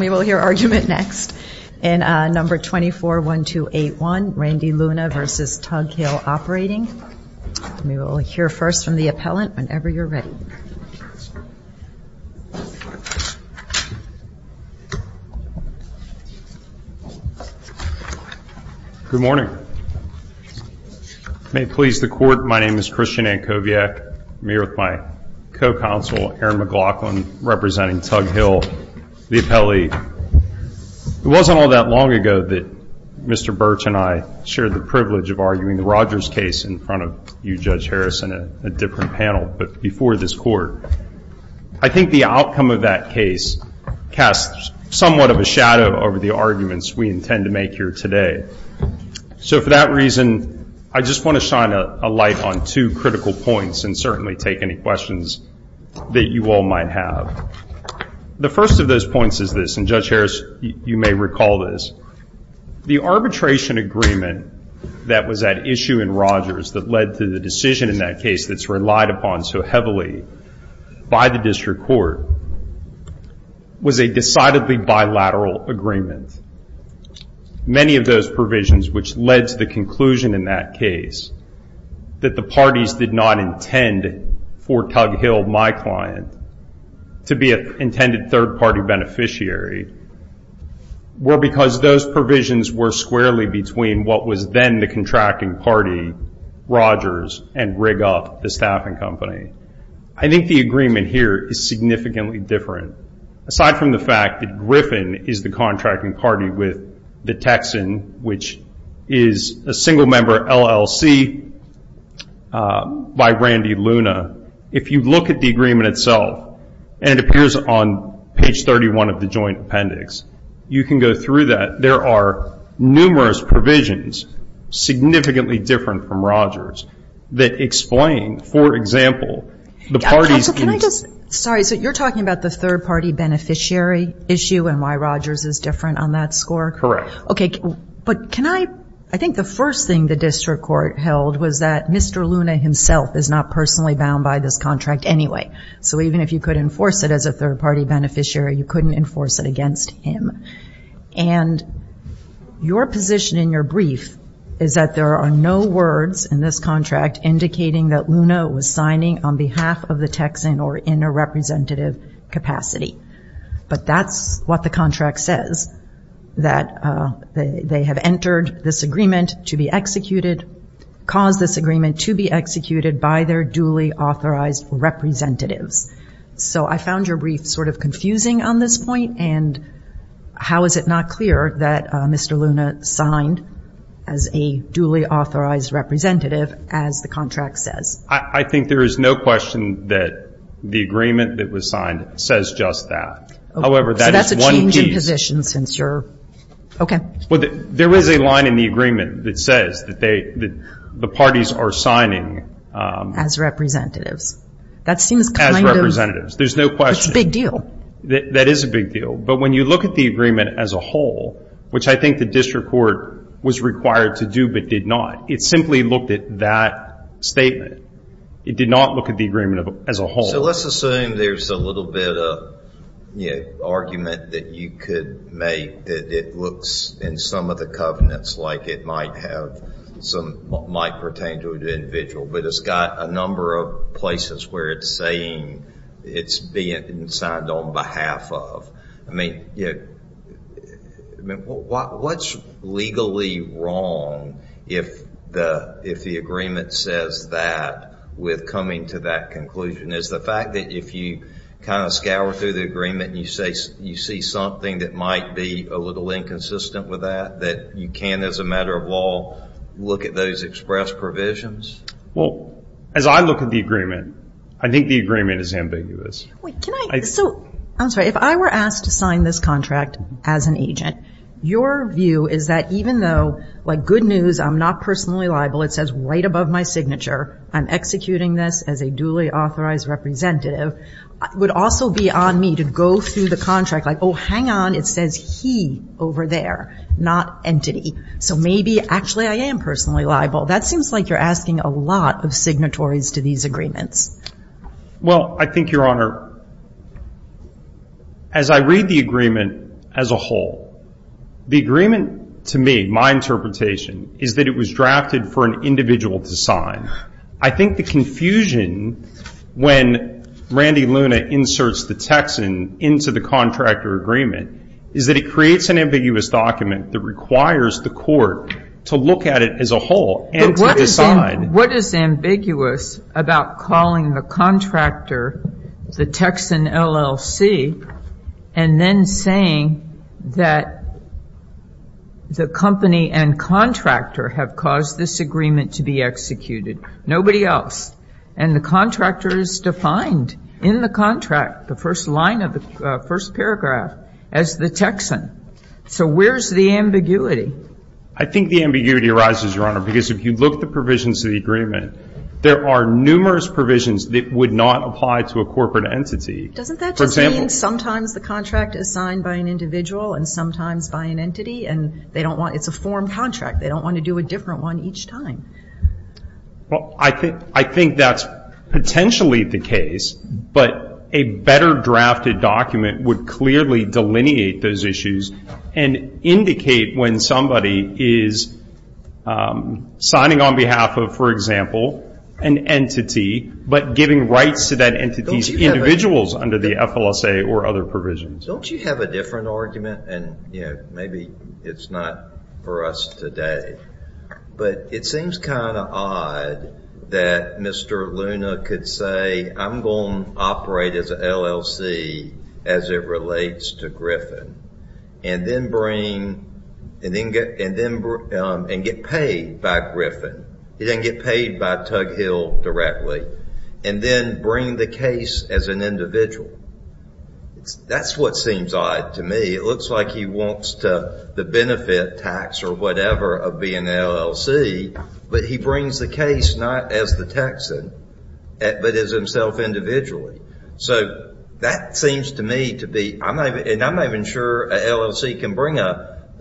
We will hear argument next in number 24-1281, Randy Luna v. Tug Hill Operating. We will hear first from the appellant, whenever you're ready. Good morning. May it please the Court, my name is Christian Ankoviak. I'm here with my co-counsel, Aaron McLaughlin, representing Tug Hill, the appellee. It wasn't all that long ago that Mr. Birch and I shared the privilege of arguing the Rogers case in front of you, Judge Harrison, a different panel, but before this Court. I think the outcome of that case casts somewhat of a shadow over the arguments we intend to make here today. So for that reason, I just want to shine a light on two critical points and certainly take any questions that you all might have. The first of those points is this, and Judge Harris, you may recall this. The arbitration agreement that was at issue in Rogers that led to the decision in that case that's relied upon so heavily by the District Court was a decidedly bilateral agreement. Many of those provisions which led to the conclusion in that case that the parties did not intend for Tug Hill, my client, to be an intended third-party beneficiary, were because those provisions were squarely between what was then the contracting party, Rogers, and rig up the staffing company. I think the agreement here is significantly different. Aside from the fact that Griffin is the contracting party with the Texan, which is a single-member LLC by Randy Luna, if you look at the agreement itself, and it appears on page 31 of the joint appendix, you can go through that. There are numerous provisions significantly different from Rogers that explain, for example, the parties. So can I just, sorry, so you're talking about the third-party beneficiary issue and why Rogers is different on that score? Correct. Okay, but can I, I think the first thing the District Court held was that Mr. Luna himself is not personally bound by this contract anyway. So even if you could enforce it as a third-party beneficiary, you couldn't enforce it against him. And your position in your brief is that there are no words in this contract indicating that Luna was signing on behalf of the Texan or in a representative capacity. But that's what the contract says, that they have entered this agreement to be executed, caused this agreement to be executed by their duly authorized representatives. So I found your brief sort of confusing on this point, and how is it not clear that Mr. Luna signed as a duly authorized representative, as the contract says? I think there is no question that the agreement that was signed says just that. However, that is one piece. So that's a change in position since you're, okay. Well, there is a line in the agreement that says that the parties are signing. As representatives. As representatives. There's no question. That's a big deal. That is a big deal. But when you look at the agreement as a whole, which I think the District Court was required to do but did not, it simply looked at that statement. It did not look at the agreement as a whole. So let's assume there's a little bit of argument that you could make that it looks in some of the covenants like it might pertain to an individual. But it's got a number of places where it's saying it's being signed on behalf of. I mean, what's legally wrong if the agreement says that with coming to that conclusion? Is the fact that if you kind of scour through the agreement and you see something that might be a little inconsistent with that, that you can, as a matter of law, look at those express provisions? Well, as I look at the agreement, I think the agreement is ambiguous. Wait, can I? So, I'm sorry. If I were asked to sign this contract as an agent, your view is that even though, like, good news, I'm not personally liable. It says right above my signature. I'm executing this as a duly authorized representative. It would also be on me to go through the contract like, oh, hang on. It says he over there, not entity. So maybe actually I am personally liable. That seems like you're asking a lot of signatories to these agreements. Well, I think, Your Honor, as I read the agreement as a whole, the agreement to me, my interpretation, is that it was drafted for an individual to sign. I think the confusion when Randy Luna inserts the Texan into the contractor agreement is that it creates an ambiguous document that requires the court to look at it as a whole and to decide. What is ambiguous about calling the contractor the Texan LLC and then saying that the company and contractor have caused this agreement to be executed? Nobody else. And the contractor is defined in the contract, the first line of the first paragraph, as the Texan. So where's the ambiguity? I think the ambiguity arises, Your Honor, because if you look at the provisions of the agreement, there are numerous provisions that would not apply to a corporate entity. Doesn't that just mean sometimes the contract is signed by an individual and sometimes by an entity, and it's a formed contract. They don't want to do a different one each time. Well, I think that's potentially the case, but a better drafted document would clearly delineate those issues and indicate when somebody is signing on behalf of, for example, an entity, but giving rights to that entity's individuals under the FLSA or other provisions. Don't you have a different argument? And maybe it's not for us today, but it seems kind of odd that Mr. Luna could say, I'm going to operate as an LLC as it relates to Griffin, and then get paid by Griffin. He didn't get paid by Tug Hill directly, and then bring the case as an individual. That's what seems odd to me. It looks like he wants the benefit tax or whatever of being an LLC, but he brings the case not as the Texan, but as himself individually. So that seems to me to be, and I'm not even sure an LLC can bring up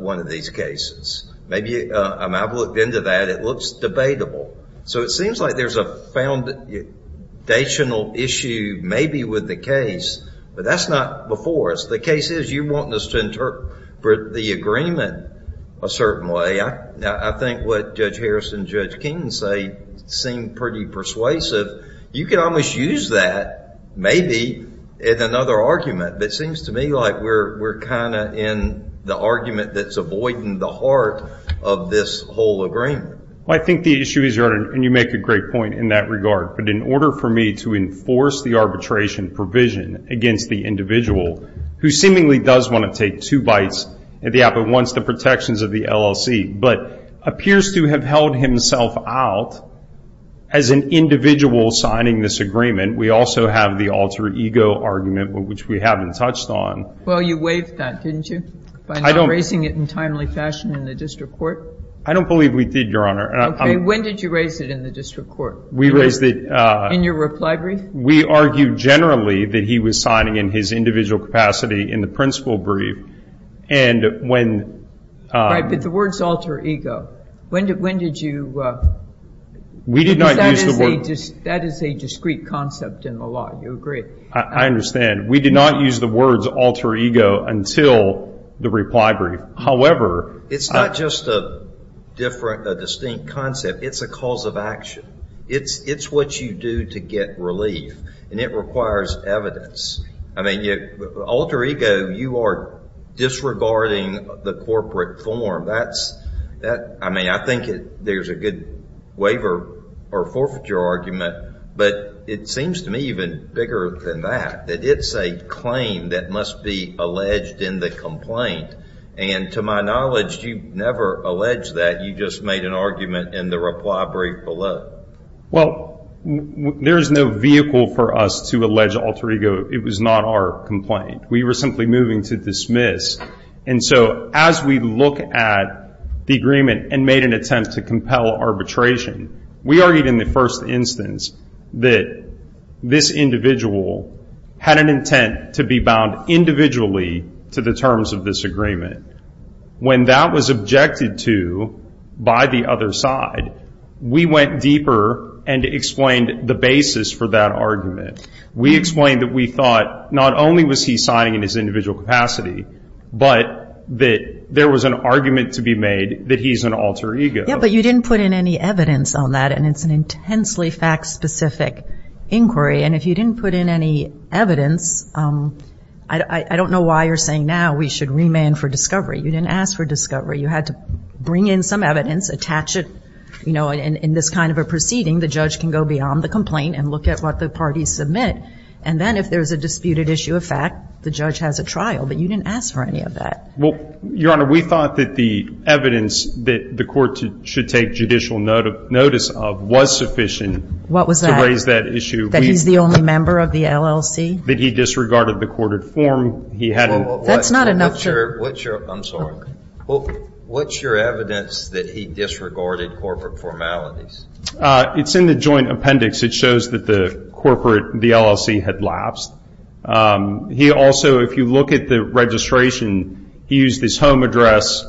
one of these cases. I've looked into that. It looks debatable. So it seems like there's a foundational issue maybe with the case, but that's not before us. The case is you're wanting us to interpret the agreement a certain way. I think what Judge Harris and Judge King say seem pretty persuasive. You could almost use that maybe in another argument, but it seems to me like we're kind of in the argument that's avoiding the heart of this whole agreement. I think the issue is, and you make a great point in that regard, but in order for me to enforce the arbitration provision against the individual who seemingly does want to take two bites at the apple, wants the protections of the LLC, but appears to have held himself out as an individual signing this agreement. We also have the alter ego argument, which we haven't touched on. Well, you waived that, didn't you? By not raising it in timely fashion in the district court? I don't believe we did, Your Honor. Okay. When did you raise it in the district court? We raised it. In your reply brief? We argued generally that he was signing in his individual capacity in the principal brief, and when. Right, but the word's alter ego. When did you? We did not use the word. That is a discrete concept in the law. Do you agree? I understand. We did not use the words alter ego until the reply brief. However. It's not just a distinct concept. It's a cause of action. It's what you do to get relief, and it requires evidence. I mean, alter ego, you are disregarding the corporate form. I mean, I think there's a good waiver or forfeiture argument, but it seems to me even bigger than that, that it's a claim that must be alleged in the complaint. And to my knowledge, you never alleged that. You just made an argument in the reply brief below. Well, there is no vehicle for us to allege alter ego. It was not our complaint. We were simply moving to dismiss. And so as we look at the agreement and made an attempt to compel arbitration, we argued in the first instance that this individual had an intent to be bound individually to the terms of this agreement. When that was objected to by the other side, we went deeper and explained the basis for that argument. We explained that we thought not only was he signing in his individual capacity, but that there was an argument to be made that he's an alter ego. Yeah, but you didn't put in any evidence on that, and it's an intensely fact-specific inquiry. And if you didn't put in any evidence, I don't know why you're saying now we should remand for discovery. You didn't ask for discovery. You had to bring in some evidence, attach it. You know, in this kind of a proceeding, the judge can go beyond the complaint and look at what the parties submit. And then if there's a disputed issue of fact, the judge has a trial. But you didn't ask for any of that. Well, Your Honor, we thought that the evidence that the court should take judicial notice of was sufficient. What was that? To raise that issue. That he's the only member of the LLC? That he disregarded the courted form. That's not enough to. I'm sorry. What's your evidence that he disregarded corporate formalities? It's in the joint appendix. It shows that the LLC had lapsed. He also, if you look at the registration, he used his home address.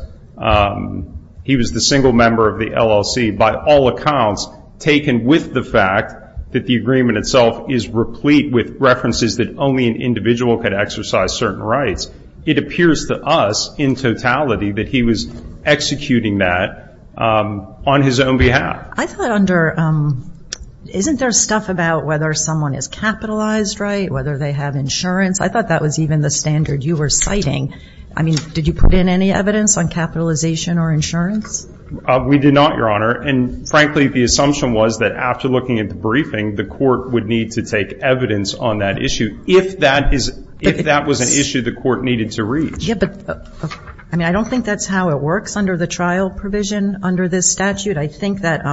He was the single member of the LLC by all accounts, taken with the fact that the agreement itself is replete with references that only an individual could exercise certain rights. It appears to us in totality that he was executing that on his own behalf. I thought under, isn't there stuff about whether someone is capitalized right, whether they have insurance? I thought that was even the standard you were citing. I mean, did you put in any evidence on capitalization or insurance? We did not, Your Honor. And frankly, the assumption was that after looking at the briefing, the court would need to take evidence on that issue, if that was an issue the court needed to reach. I mean, I don't think that's how it works under the trial provision under this statute. I think that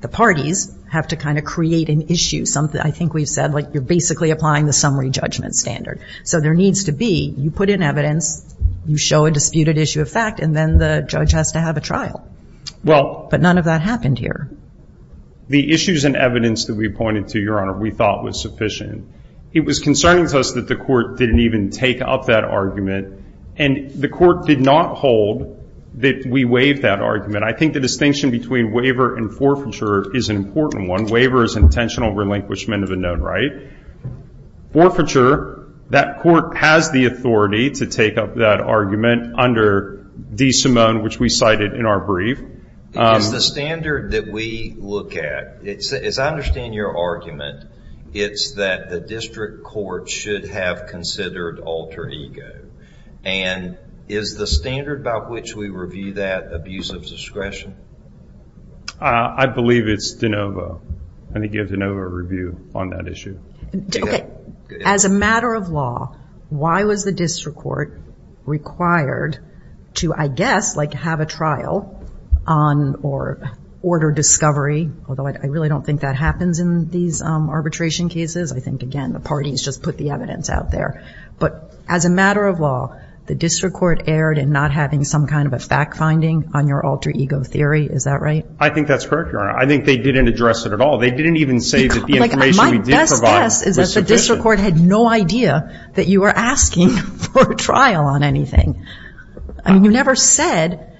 the parties have to kind of create an issue. I think we've said, like, you're basically applying the summary judgment standard. So there needs to be, you put in evidence, you show a disputed issue of fact, and then the judge has to have a trial. But none of that happened here. The issues and evidence that we pointed to, Your Honor, we thought was sufficient. It was concerning to us that the court didn't even take up that argument, and the court did not hold that we waived that argument. I think the distinction between waiver and forfeiture is an important one. Waiver is intentional relinquishment of a known right. Forfeiture, that court has the authority to take up that argument under DeSimone, which we cited in our brief. It's the standard that we look at. As I understand your argument, it's that the district court should have considered alter ego. And is the standard by which we review that abuse of discretion? I believe it's DeNovo. I think you have DeNovo review on that issue. Okay. As a matter of law, why was the district court required to, I guess, like have a trial on or order discovery, although I really don't think that happens in these arbitration cases. I think, again, the parties just put the evidence out there. But as a matter of law, the district court erred in not having some kind of a fact finding on your alter ego theory. Is that right? I think that's correct, Your Honor. I think they didn't address it at all. They didn't even say that the information we did provide was sufficient. My best guess is that the district court had no idea that you were asking for a trial on anything. I mean, you never said,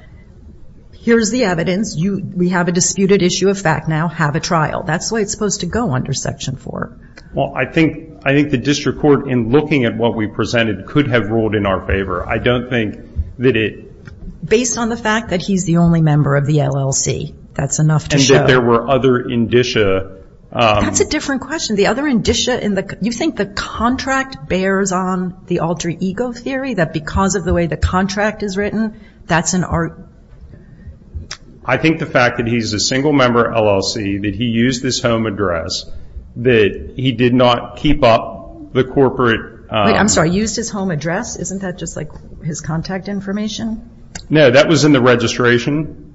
here's the evidence. We have a disputed issue of fact now. Have a trial. That's the way it's supposed to go under Section 4. Well, I think the district court, in looking at what we presented, could have ruled in our favor. I don't think that it. Based on the fact that he's the only member of the LLC, that's enough to show. And that there were other indicia. That's a different question. The other indicia in the... You think the contract bears on the alter ego theory, that because of the way the contract is written, that's an... I think the fact that he's a single-member LLC, that he used his home address, that he did not keep up the corporate... Wait, I'm sorry. Used his home address? Isn't that just like his contact information? No, that was in the registration.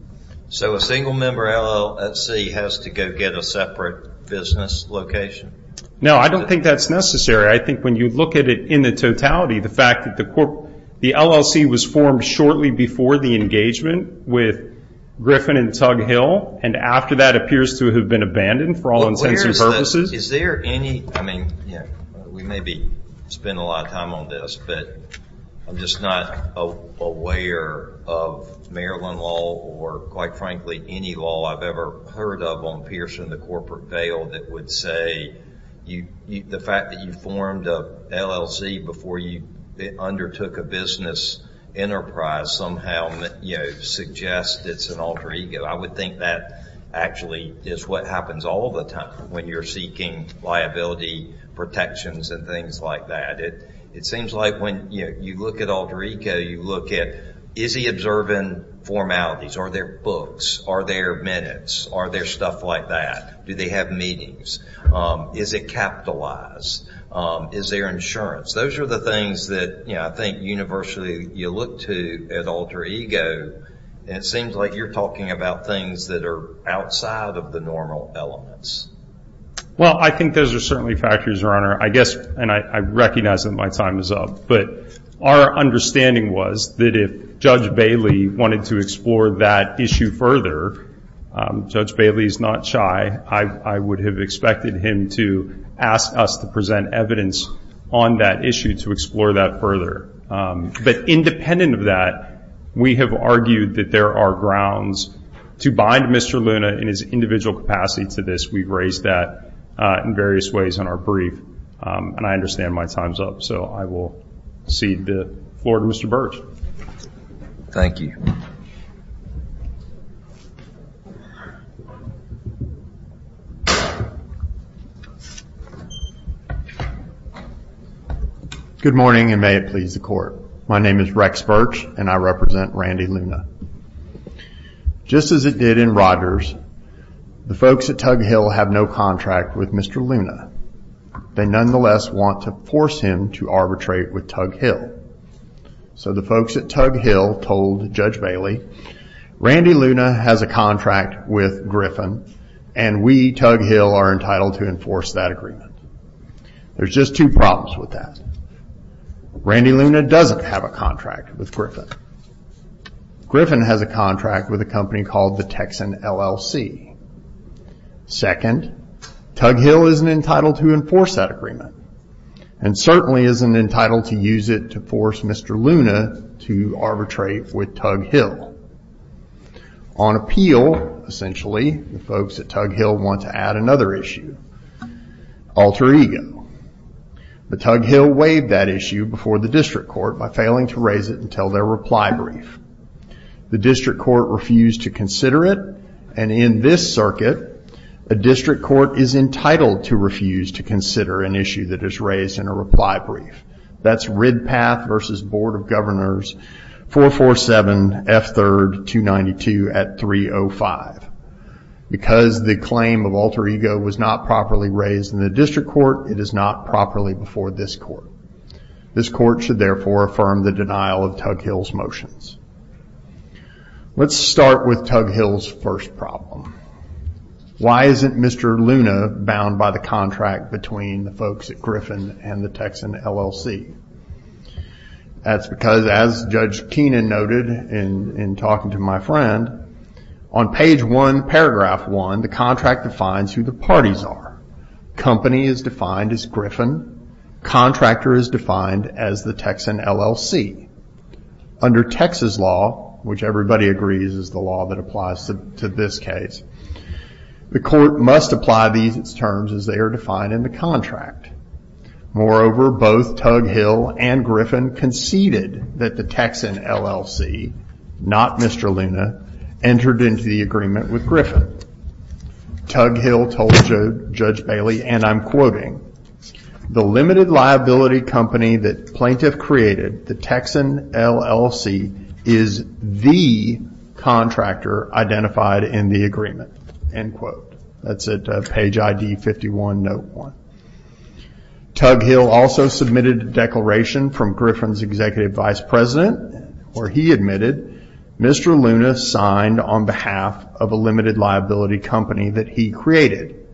So a single-member LLC has to go get a separate business location? No, I don't think that's necessary. I think when you look at it in the totality, the fact that the LLC was formed shortly before the engagement with Griffin and Tug Hill, and after that appears to have been abandoned for all intents and purposes. Is there any... I mean, we may be spending a lot of time on this, but I'm just not aware of Maryland law or, quite frankly, any law I've ever heard of on Pearson, the corporate veil, that would say the fact that you formed an LLC before you undertook a business enterprise somehow suggests it's an alter ego. I would think that actually is what happens all the time when you're seeking liability protections and things like that. It seems like when you look at alter ego, you look at is he observing formalities? Are there books? Are there minutes? Are there stuff like that? Do they have meetings? Is it capitalized? Is there insurance? Those are the things that I think universally you look to at alter ego, and it seems like you're talking about things that are outside of the normal elements. Well, I think those are certainly factors, Your Honor. I guess, and I recognize that my time is up, but our understanding was that if Judge Bailey wanted to explore that issue further, Judge Bailey is not shy. I would have expected him to ask us to present evidence on that issue to explore that further. But independent of that, we have argued that there are grounds to bind Mr. Luna in his individual capacity to this. We've raised that in various ways in our brief, and I understand my time is up. So I will cede the floor to Mr. Burch. Thank you. Good morning, and may it please the Court. My name is Rex Burch, and I represent Randy Luna. Just as it did in Rogers, the folks at Tug Hill have no contract with Mr. Luna. They nonetheless want to force him to arbitrate with Tug Hill. So the folks at Tug Hill told Judge Bailey, Randy Luna has a contract with Griffin, and we, Tug Hill, are entitled to enforce that agreement. There's just two problems with that. Randy Luna doesn't have a contract with Griffin. Griffin has a contract with a company called the Texan LLC. Second, Tug Hill isn't entitled to enforce that agreement, and certainly isn't entitled to use it to force Mr. Luna to arbitrate with Tug Hill. On appeal, essentially, the folks at Tug Hill want to add another issue, alter ego. But Tug Hill waived that issue before the district court by failing to raise it until their reply brief. The district court refused to consider it, and in this circuit, a district court is entitled to refuse to consider an issue that is raised in a reply brief. That's Ridpath v. Board of Governors, 447 F. 3rd, 292 at 305. Because the claim of alter ego was not properly raised in the district court, it is not properly before this court. This court should, therefore, affirm the denial of Tug Hill's motions. Let's start with Tug Hill's first problem. Why isn't Mr. Luna bound by the contract between the folks at Griffin and the Texan LLC? That's because, as Judge Keenan noted in talking to my friend, on page one, paragraph one, the contract defines who the parties are. Company is defined as Griffin. Contractor is defined as the Texan LLC. Under Texas law, which everybody agrees is the law that applies to this case, the court must apply these terms as they are defined in the contract. Moreover, both Tug Hill and Griffin conceded that the Texan LLC, not Mr. Luna, entered into the agreement with Griffin. Tug Hill told Judge Bailey, and I'm quoting, the limited liability company that plaintiff created, the Texan LLC, is the contractor identified in the agreement, end quote. That's at page ID 51, note one. Tug Hill also submitted a declaration from Griffin's executive vice president where he admitted Mr. Luna signed on behalf of a limited liability company that he created,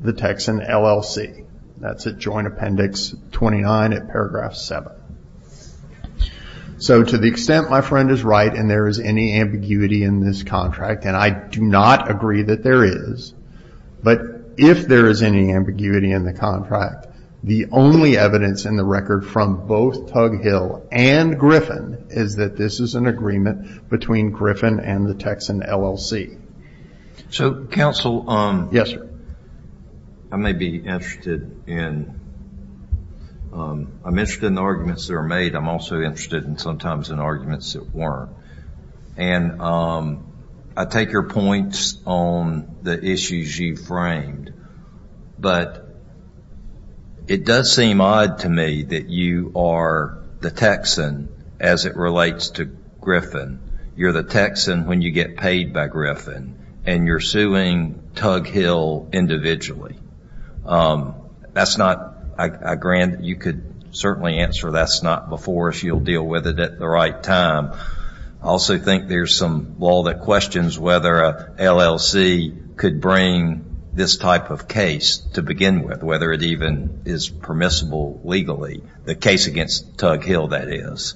the Texan LLC. That's at joint appendix 29 at paragraph seven. To the extent my friend is right and there is any ambiguity in this contract, and I do not agree that there is, but if there is any ambiguity in the contract, the only evidence in the record from both Tug Hill and Griffin is that this is an agreement between Griffin and the Texan LLC. Counsel. Yes, sir. I may be interested in the arguments that are made. I'm also interested sometimes in arguments that weren't. I take your points on the issues you framed, but it does seem odd to me that you are the Texan as it relates to Griffin. You're the Texan when you get paid by Griffin, and you're suing Tug Hill individually. You could certainly answer that's not before us. You'll deal with it at the right time. I also think there's some law that questions whether an LLC could bring this type of case to begin with, whether it even is permissible legally, the case against Tug Hill, that is.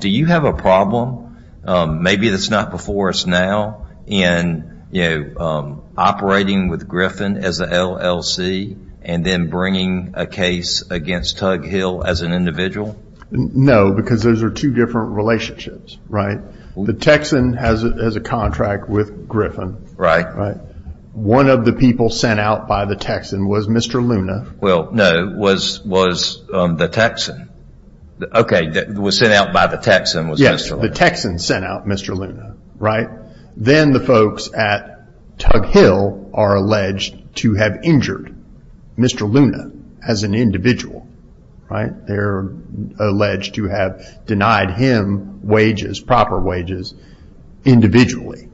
Do you have a problem, maybe that's not before us now, in operating with Griffin as an LLC and then bringing a case against Tug Hill as an individual? No, because those are two different relationships. The Texan has a contract with Griffin. One of the people sent out by the Texan was Mr. Luna. No, it was the Texan. Okay, it was sent out by the Texan. Yes, the Texan sent out Mr. Luna. Then the folks at Tug Hill are alleged to have injured Mr. Luna as an individual. They're alleged to have denied him wages, proper wages, individually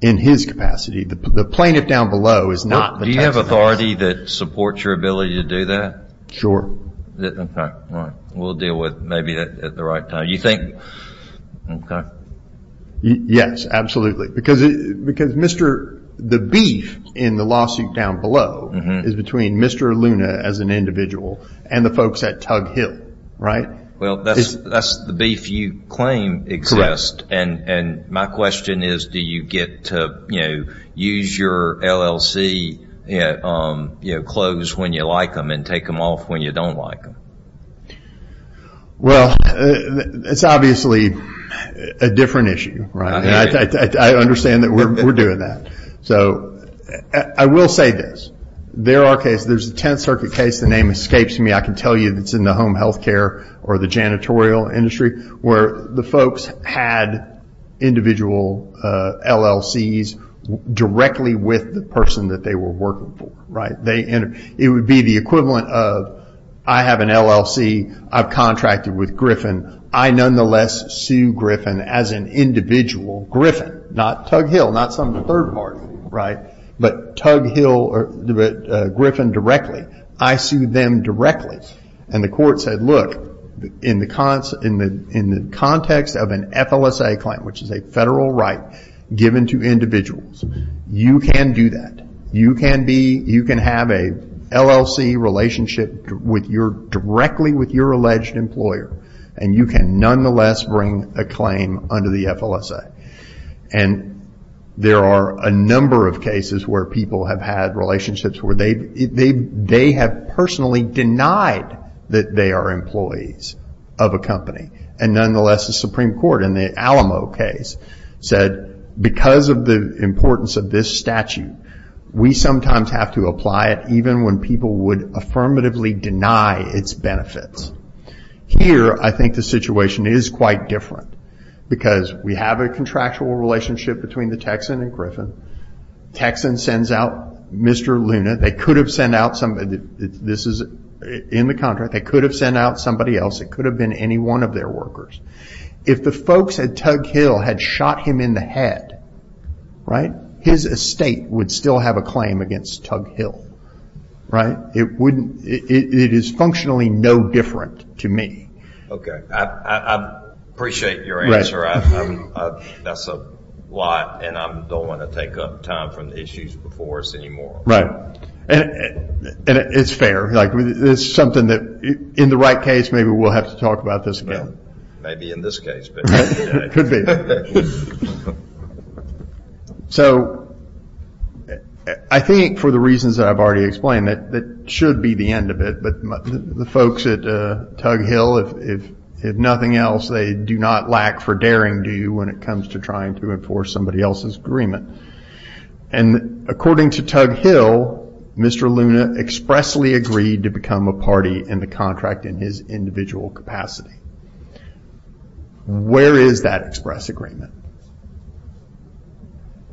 in his capacity. The plaintiff down below is not the Texan. Do you have authority that supports your ability to do that? Sure. Okay, all right. We'll deal with it maybe at the right time. You think, okay. Yes, absolutely. Because the beef in the lawsuit down below is between Mr. Luna as an individual and the folks at Tug Hill, right? Well, that's the beef you claim exists. My question is, do you get to use your LLC clothes when you like them and take them off when you don't like them? Well, it's obviously a different issue, right? I understand that we're doing that. I will say this. There are cases, there's a Tenth Circuit case, the name escapes me, I can tell you it's in the home health care or the janitorial industry, where the folks had individual LLCs directly with the person that they were working for. It would be the equivalent of, I have an LLC, I've contracted with Griffin, I nonetheless sue Griffin as an individual, Griffin, not Tug Hill, not some third party, but Tug Hill or Griffin directly. I sued them directly. The court said, look, in the context of an FLSA claim, which is a federal right given to individuals, you can do that. You can have an LLC relationship directly with your alleged employer and you can nonetheless bring a claim under the FLSA. There are a number of cases where people have had relationships where they have personally denied that they are employees of a company. Nonetheless, the Supreme Court in the Alamo case said, because of the importance of this statute, we sometimes have to apply it even when people would affirmatively deny its benefits. Here, I think the situation is quite different because we have a contractual relationship between the Texan and Griffin. Texan sends out Mr. Luna. They could have sent out somebody else. It could have been any one of their workers. If the folks at Tug Hill had shot him in the head, his estate would still have a claim against Tug Hill. It is functionally no different to me. I appreciate your answer. That's a lot and I don't want to take up time from the issues before us anymore. It's fair. In the right case, maybe we'll have to talk about this again. Maybe in this case. I think for the reasons that I've already explained, that should be the end of it. The folks at Tug Hill, if nothing else, they do not lack for daring do when it comes to trying to enforce somebody else's agreement. According to Tug Hill, Mr. Luna expressly agreed to become a party in the contract in his individual capacity. Where is that express agreement?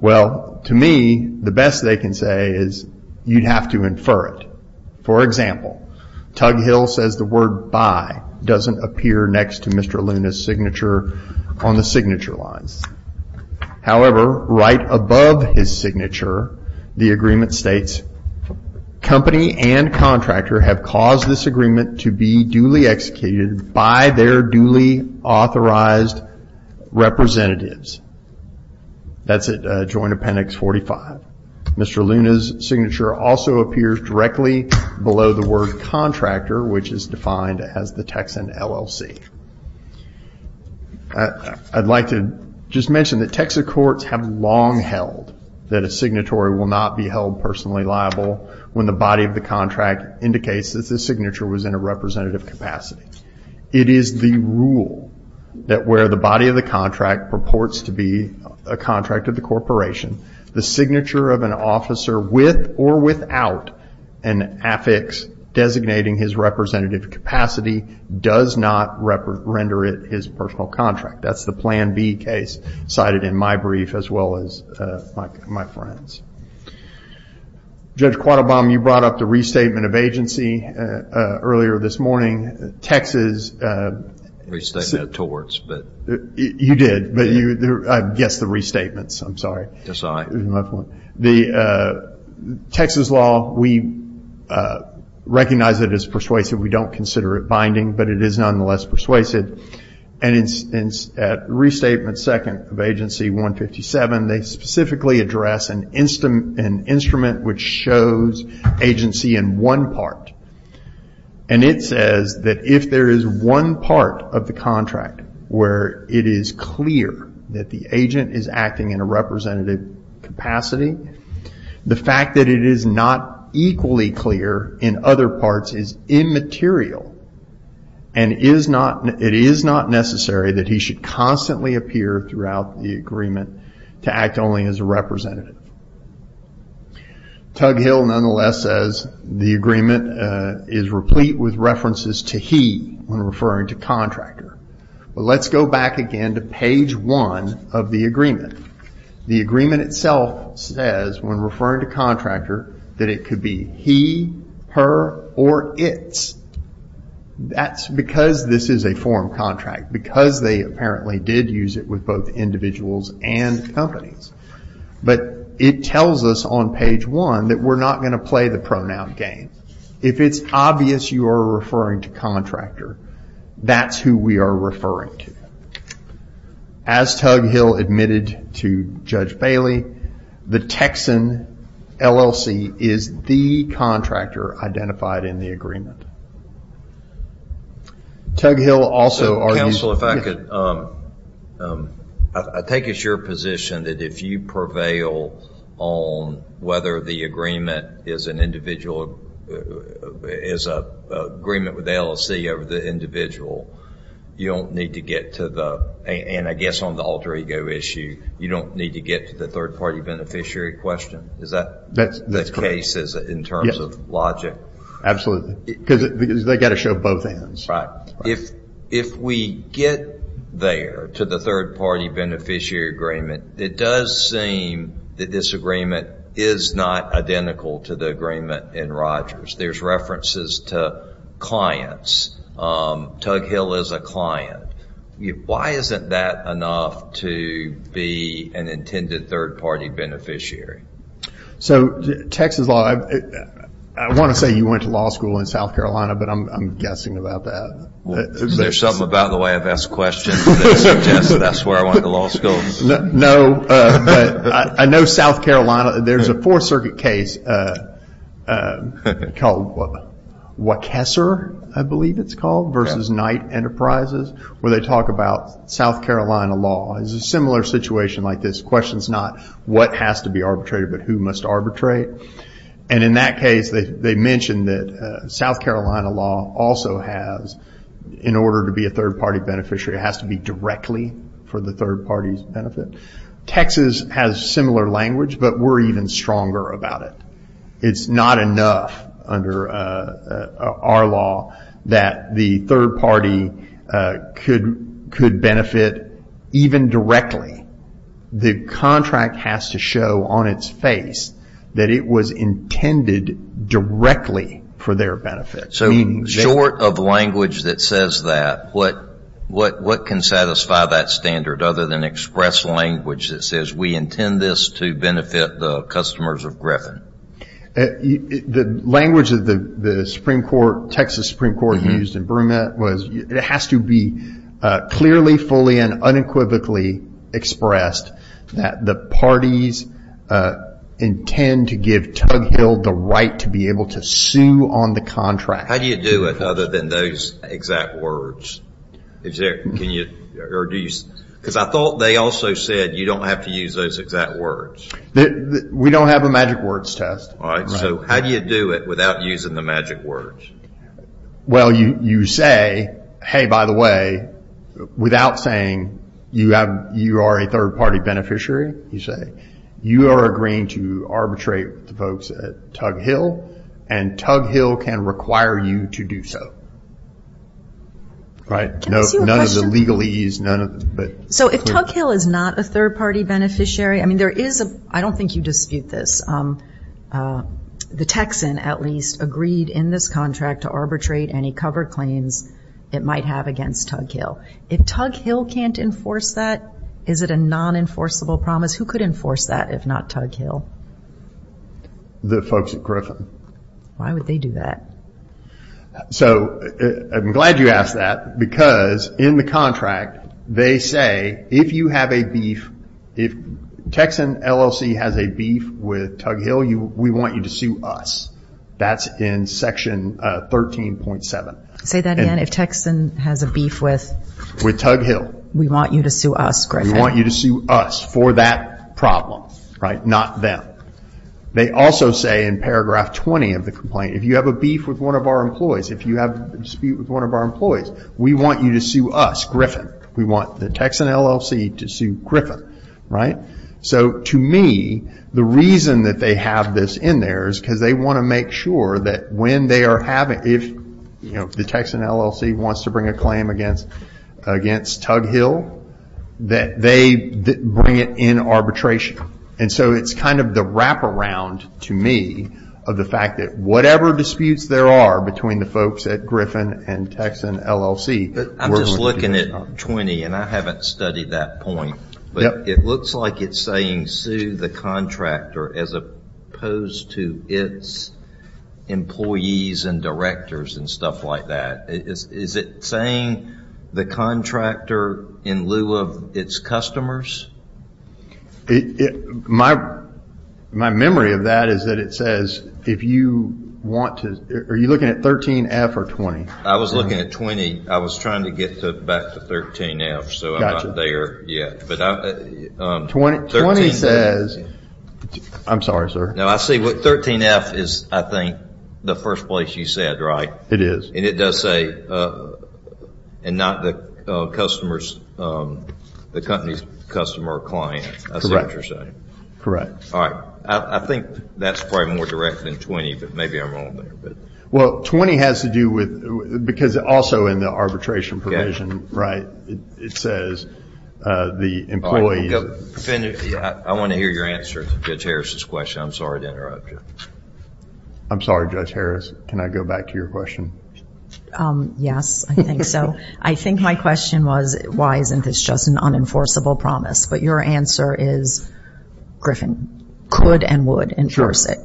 To me, the best they can say is you'd have to infer it. For example, Tug Hill says the word buy doesn't appear next to Mr. Luna's signature on the signature lines. However, right above his signature, the agreement states, Company and contractor have caused this agreement to be duly executed by their duly authorized representatives. That's at Joint Appendix 45. Mr. Luna's signature also appears directly below the word contractor, which is defined as the Texan LLC. I'd like to just mention that Texas courts have long held that a signatory will not be held personally liable when the body of the contract indicates that the signature was in a representative capacity. It is the rule that where the body of the contract purports to be a contract of the corporation, the signature of an officer with or without an affix designating his representative capacity does not render it his personal contract. That's the Plan B case cited in my brief as well as my friend's. Judge Quattlebaum, you brought up the restatement of agency earlier this morning. Texas... Restatement of torts, but... You did, but I guessed the restatements. I'm sorry. Yes, I. The Texas law, we recognize it as persuasive. We don't consider it binding, but it is nonetheless persuasive. At restatement second of agency 157, they specifically address an instrument which shows agency in one part. It says that if there is one part of the contract where it is clear that the agent is acting in a representative capacity, the fact that it is not equally clear in other parts is immaterial. It is not necessary that he should constantly appear throughout the agreement to act only as a representative. Tug Hill, nonetheless, says the agreement is replete with references to he when referring to contractor. Let's go back again to page one of the agreement. The agreement itself says, when referring to contractor, that it could be he, her, or its. That's because this is a form contract, because they apparently did use it with both individuals and companies. But it tells us on page one that we're not going to play the pronoun game. If it's obvious you are referring to contractor, that's who we are referring to. As Tug Hill admitted to Judge Bailey, the Texan LLC is the contractor identified in the agreement. Tug Hill also argues... Counsel, if I could. I take it's your position that if you prevail on whether the agreement is an agreement with the LLC over the individual, you don't need to get to the... And I guess on the alter ego issue, you don't need to get to the third-party beneficiary question. Is that the case in terms of logic? Absolutely. Because they've got to show both ends. Right. If we get there to the third-party beneficiary agreement, it does seem that this agreement is not identical to the agreement in Rogers. There's references to clients. Tug Hill is a client. Why isn't that enough to be an intended third-party beneficiary? So Texas law... I want to say you went to law school in South Carolina, but I'm guessing about that. Is there something about the way I've asked questions that suggests that's where I went to law school? No, but I know South Carolina... There's a Fourth Circuit case called Waukesha, I believe it's called, versus Knight Enterprises where they talk about South Carolina law. It's a similar situation like this. The question is not what has to be arbitrated, but who must arbitrate. And in that case, they mention that South Carolina law also has, in order to be a third-party beneficiary, it has to be directly for the third-party's benefit. Texas has similar language, but we're even stronger about it. It's not enough under our law that the third-party could benefit even directly. The contract has to show on its face that it was intended directly for their benefit. So short of language that says that, what can satisfy that standard, other than express language that says, we intend this to benefit the customers of Griffin? The language that the Texas Supreme Court used in Brumet was, it has to be clearly, fully, and unequivocally expressed that the parties intend to give Tug Hill the right to be able to sue on the contract. How do you do it other than those exact words? Because I thought they also said you don't have to use those exact words. We don't have a magic words test. So how do you do it without using the magic words? Well, you say, hey, by the way, without saying you are a third-party beneficiary, you say, you are agreeing to arbitrate with the folks at Tug Hill, and Tug Hill can require you to do so. None of the legalese. So if Tug Hill is not a third-party beneficiary, I don't think you dispute this. The Texan, at least, agreed in this contract to arbitrate any cover claims it might have against Tug Hill. If Tug Hill can't enforce that, is it a non-enforceable promise? Who could enforce that if not Tug Hill? The folks at Griffin. Why would they do that? So I'm glad you asked that because in the contract they say if you have a beef, if Texan LLC has a beef with Tug Hill, we want you to sue us. That's in Section 13.7. Say that again. If Texan has a beef with Tug Hill, we want you to sue us, Griffin. We want you to sue us for that problem, not them. They also say in paragraph 20 of the complaint, if you have a beef with one of our employees, if you have a dispute with one of our employees, we want you to sue us, Griffin. We want the Texan LLC to sue Griffin. So to me, the reason that they have this in there is because they want to make sure that when they are having, if the Texan LLC wants to bring a claim against Tug Hill, that they bring it in arbitration. And so it's kind of the wraparound, to me, of the fact that whatever disputes there are between the folks at Griffin and Texan LLC. I'm just looking at 20, and I haven't studied that point. It looks like it's saying sue the contractor as opposed to its employees and directors and stuff like that. Is it saying the contractor in lieu of its customers? My memory of that is that it says if you want to, are you looking at 13F or 20? I was looking at 20. I was trying to get back to 13F, so I'm not there yet. I'm sorry, sir. No, I see what 13F is, I think, the first place you said, right? It is. And it does say, and not the company's customer or client, I see what you're saying. Correct. All right. I think that's probably more direct than 20, but maybe I'm wrong there. Well, 20 has to do with, because also in the arbitration provision, right, it says the employees. I want to hear your answer to Judge Harris's question. I'm sorry to interrupt you. I'm sorry, Judge Harris. Can I go back to your question? Yes, I think so. I think my question was, why isn't this just an unenforceable promise? But your answer is Griffin could and would enforce it.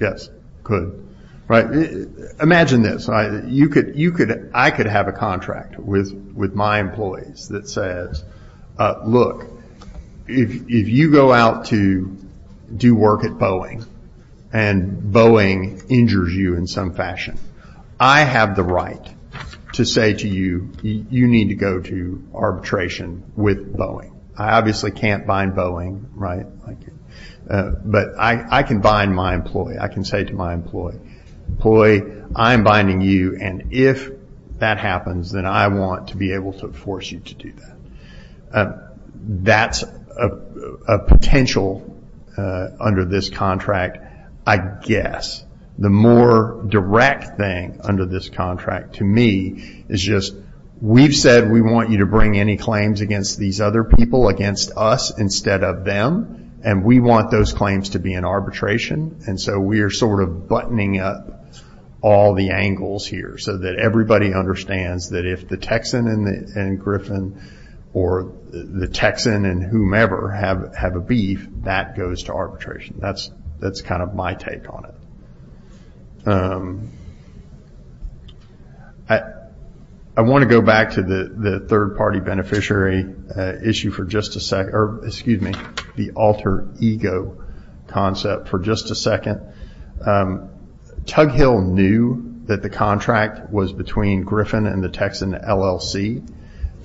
Yes, could. Imagine this. I could have a contract with my employees that says, look, if you go out to do work at Boeing and Boeing injures you in some fashion, I have the right to say to you, you need to go to arbitration with Boeing. I obviously can't bind Boeing, right? But I can bind my employee. I can say to my employee, employee, I am binding you, and if that happens, then I want to be able to force you to do that. That's a potential under this contract, I guess. The more direct thing under this contract to me is just, we've said we want you to bring any claims against these other people against us instead of them, and we want those claims to be in arbitration, and so we are sort of buttoning up all the angles here so that everybody understands that if the Texan and Griffin or the Texan and whomever have a beef, that goes to arbitration. That's kind of my take on it. I want to go back to the third-party beneficiary issue for just a second, or excuse me, the alter ego concept for just a second. Tug Hill knew that the contract was between Griffin and the Texan LLC.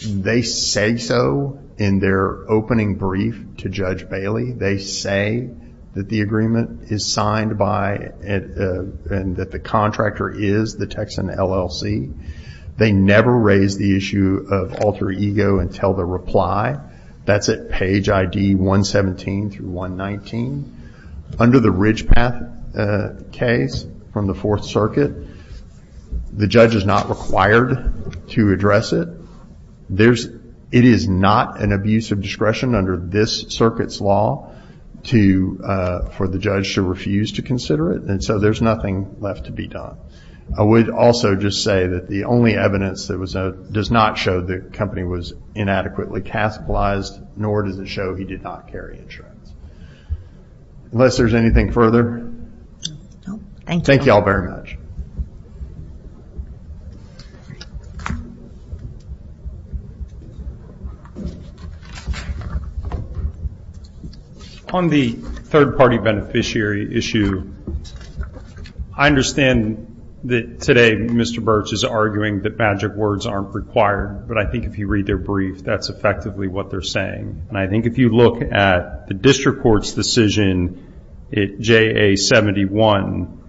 They say so in their opening brief to Judge Bailey. They say that the agreement is signed by and that the contractor is the Texan LLC. They never raise the issue of alter ego until the reply. That's at page ID 117 through 119. Under the Ridge Path case from the Fourth Circuit, the judge is not required to address it. It is not an abuse of discretion under this circuit's law for the judge to refuse to consider it, and so there's nothing left to be done. I would also just say that the only evidence that does not show the company was inadequately capitalized, nor does it show he did not carry insurance. Unless there's anything further, thank you all very much. Thank you. On the third-party beneficiary issue, I understand that today Mr. Birch is arguing that magic words aren't required, but I think if you read their brief, that's effectively what they're saying. I think if you look at the district court's decision at JA 71,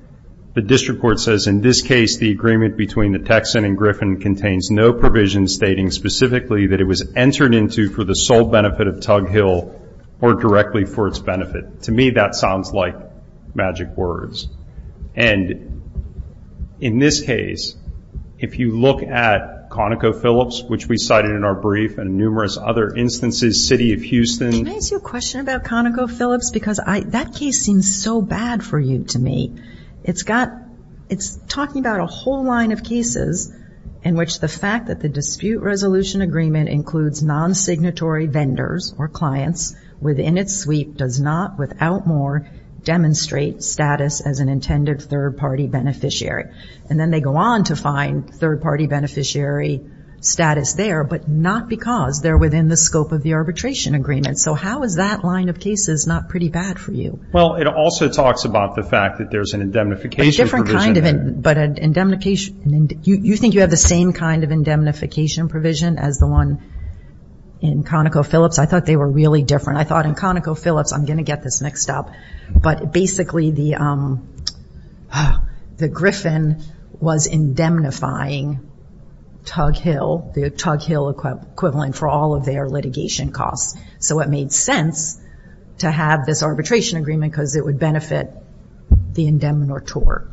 the district court says, in this case, the agreement between the Texan and Griffin contains no provision stating specifically that it was entered into for the sole benefit of Tug Hill or directly for its benefit. To me, that sounds like magic words. And in this case, if you look at ConocoPhillips, which we cited in our brief and numerous other instances, City of Houston. Can I ask you a question about ConocoPhillips? Because that case seems so bad for you to me. It's talking about a whole line of cases in which the fact that the dispute resolution agreement includes non-signatory vendors or clients within its sweep does not, without more, demonstrate status as an intended third-party beneficiary. And then they go on to find third-party beneficiary status there, but not because they're within the scope of the arbitration agreement. So how is that line of cases not pretty bad for you? Well, it also talks about the fact that there's an indemnification provision. A different kind of indemnification. You think you have the same kind of indemnification provision as the one in ConocoPhillips? I thought they were really different. I thought in ConocoPhillips, I'm going to get this mixed up, but basically the Griffin was indemnifying Tug Hill, the Tug Hill equivalent, for all of their litigation costs. So it made sense to have this arbitration agreement because it would benefit the indemnitor.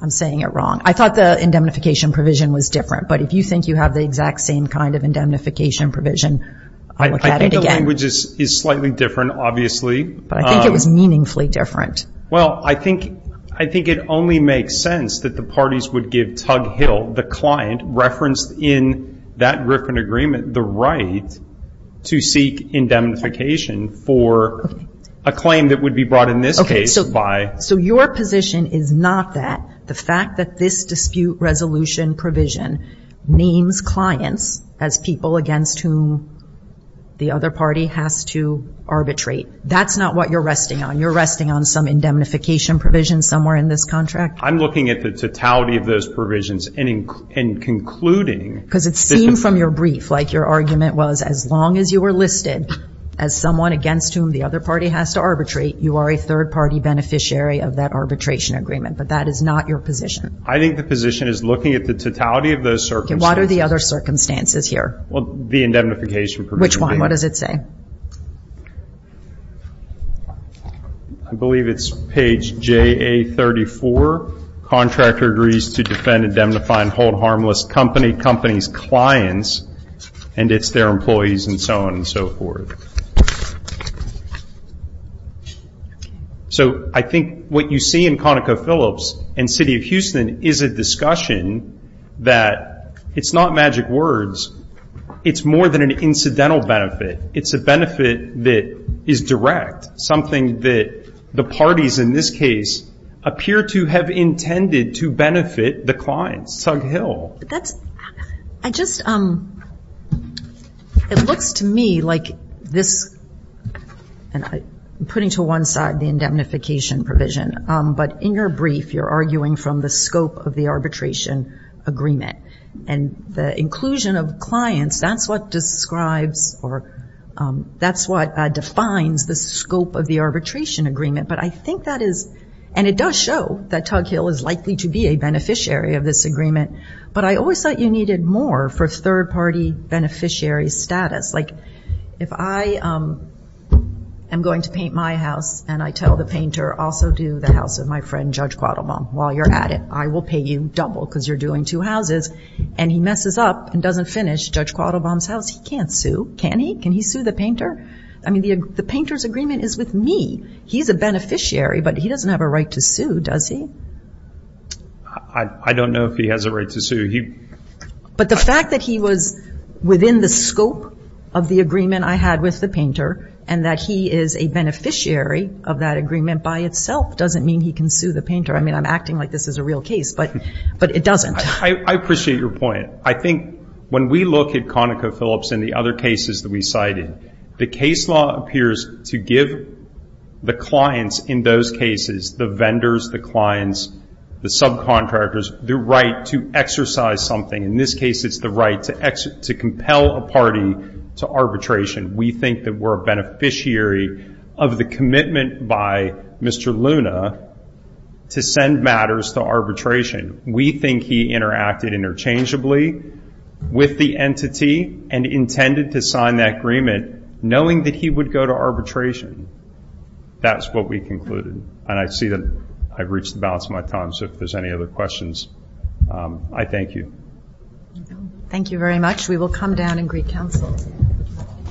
I'm saying it wrong. I thought the indemnification provision was different, but if you think you have the exact same kind of indemnification provision, I'll look at it again. I think the language is slightly different, obviously. But I think it was meaningfully different. Well, I think it only makes sense that the parties would give Tug Hill, the client, referenced in that Griffin agreement the right to seek indemnification for a claim that would be brought, in this case, by. So your position is not that. The fact that this dispute resolution provision names clients as people against whom the other party has to arbitrate. That's not what you're resting on. You're resting on some indemnification provision somewhere in this contract? I'm looking at the totality of those provisions and concluding. Because it seemed from your brief like your argument was, as long as you were listed as someone against whom the other party has to arbitrate, you are a third-party beneficiary of that arbitration agreement. But that is not your position. I think the position is looking at the totality of those circumstances. What are the other circumstances here? Well, the indemnification provision. Which one? What does it say? I believe it's page JA34. Contractor agrees to defend, indemnify, and hold harmless company, company's clients, and it's their employees, and so on and so forth. So I think what you see in ConocoPhillips and City of Houston is a discussion that it's not magic words. It's more than an incidental benefit. It's a benefit that is direct, something that the parties in this case appear to have intended to benefit the clients, Tug Hill. It looks to me like this, putting to one side the indemnification provision, but in your brief you're arguing from the scope of the arbitration agreement. And the inclusion of clients, that's what describes or that's what defines the scope of the arbitration agreement. But I think that is, and it does show that Tug Hill is likely to be a beneficiary of this agreement, but I always thought you needed more for third-party beneficiary status. Like, if I am going to paint my house and I tell the painter also do the house of my friend Judge Quattlebaum while you're at it, I will pay you double because you're doing two houses, and he messes up and doesn't finish Judge Quattlebaum's house, he can't sue. Can he? Can he sue the painter? I mean, the painter's agreement is with me. He's a beneficiary, but he doesn't have a right to sue, does he? I don't know if he has a right to sue. But the fact that he was within the scope of the agreement I had with the painter and that he is a beneficiary of that agreement by itself doesn't mean he can sue the painter. I mean, I'm acting like this is a real case, but it doesn't. I appreciate your point. I think when we look at ConocoPhillips and the other cases that we cited, the case law appears to give the clients in those cases, the vendors, the clients, the subcontractors, the right to exercise something. In this case, it's the right to compel a party to arbitration. We think that we're a beneficiary of the commitment by Mr. Luna to send matters to arbitration. We think he interacted interchangeably with the entity and intended to sign that agreement knowing that he would go to arbitration. That's what we concluded. And I see that I've reached the balance of my time, so if there's any other questions, I thank you. Thank you very much. We will come down and greet counsel.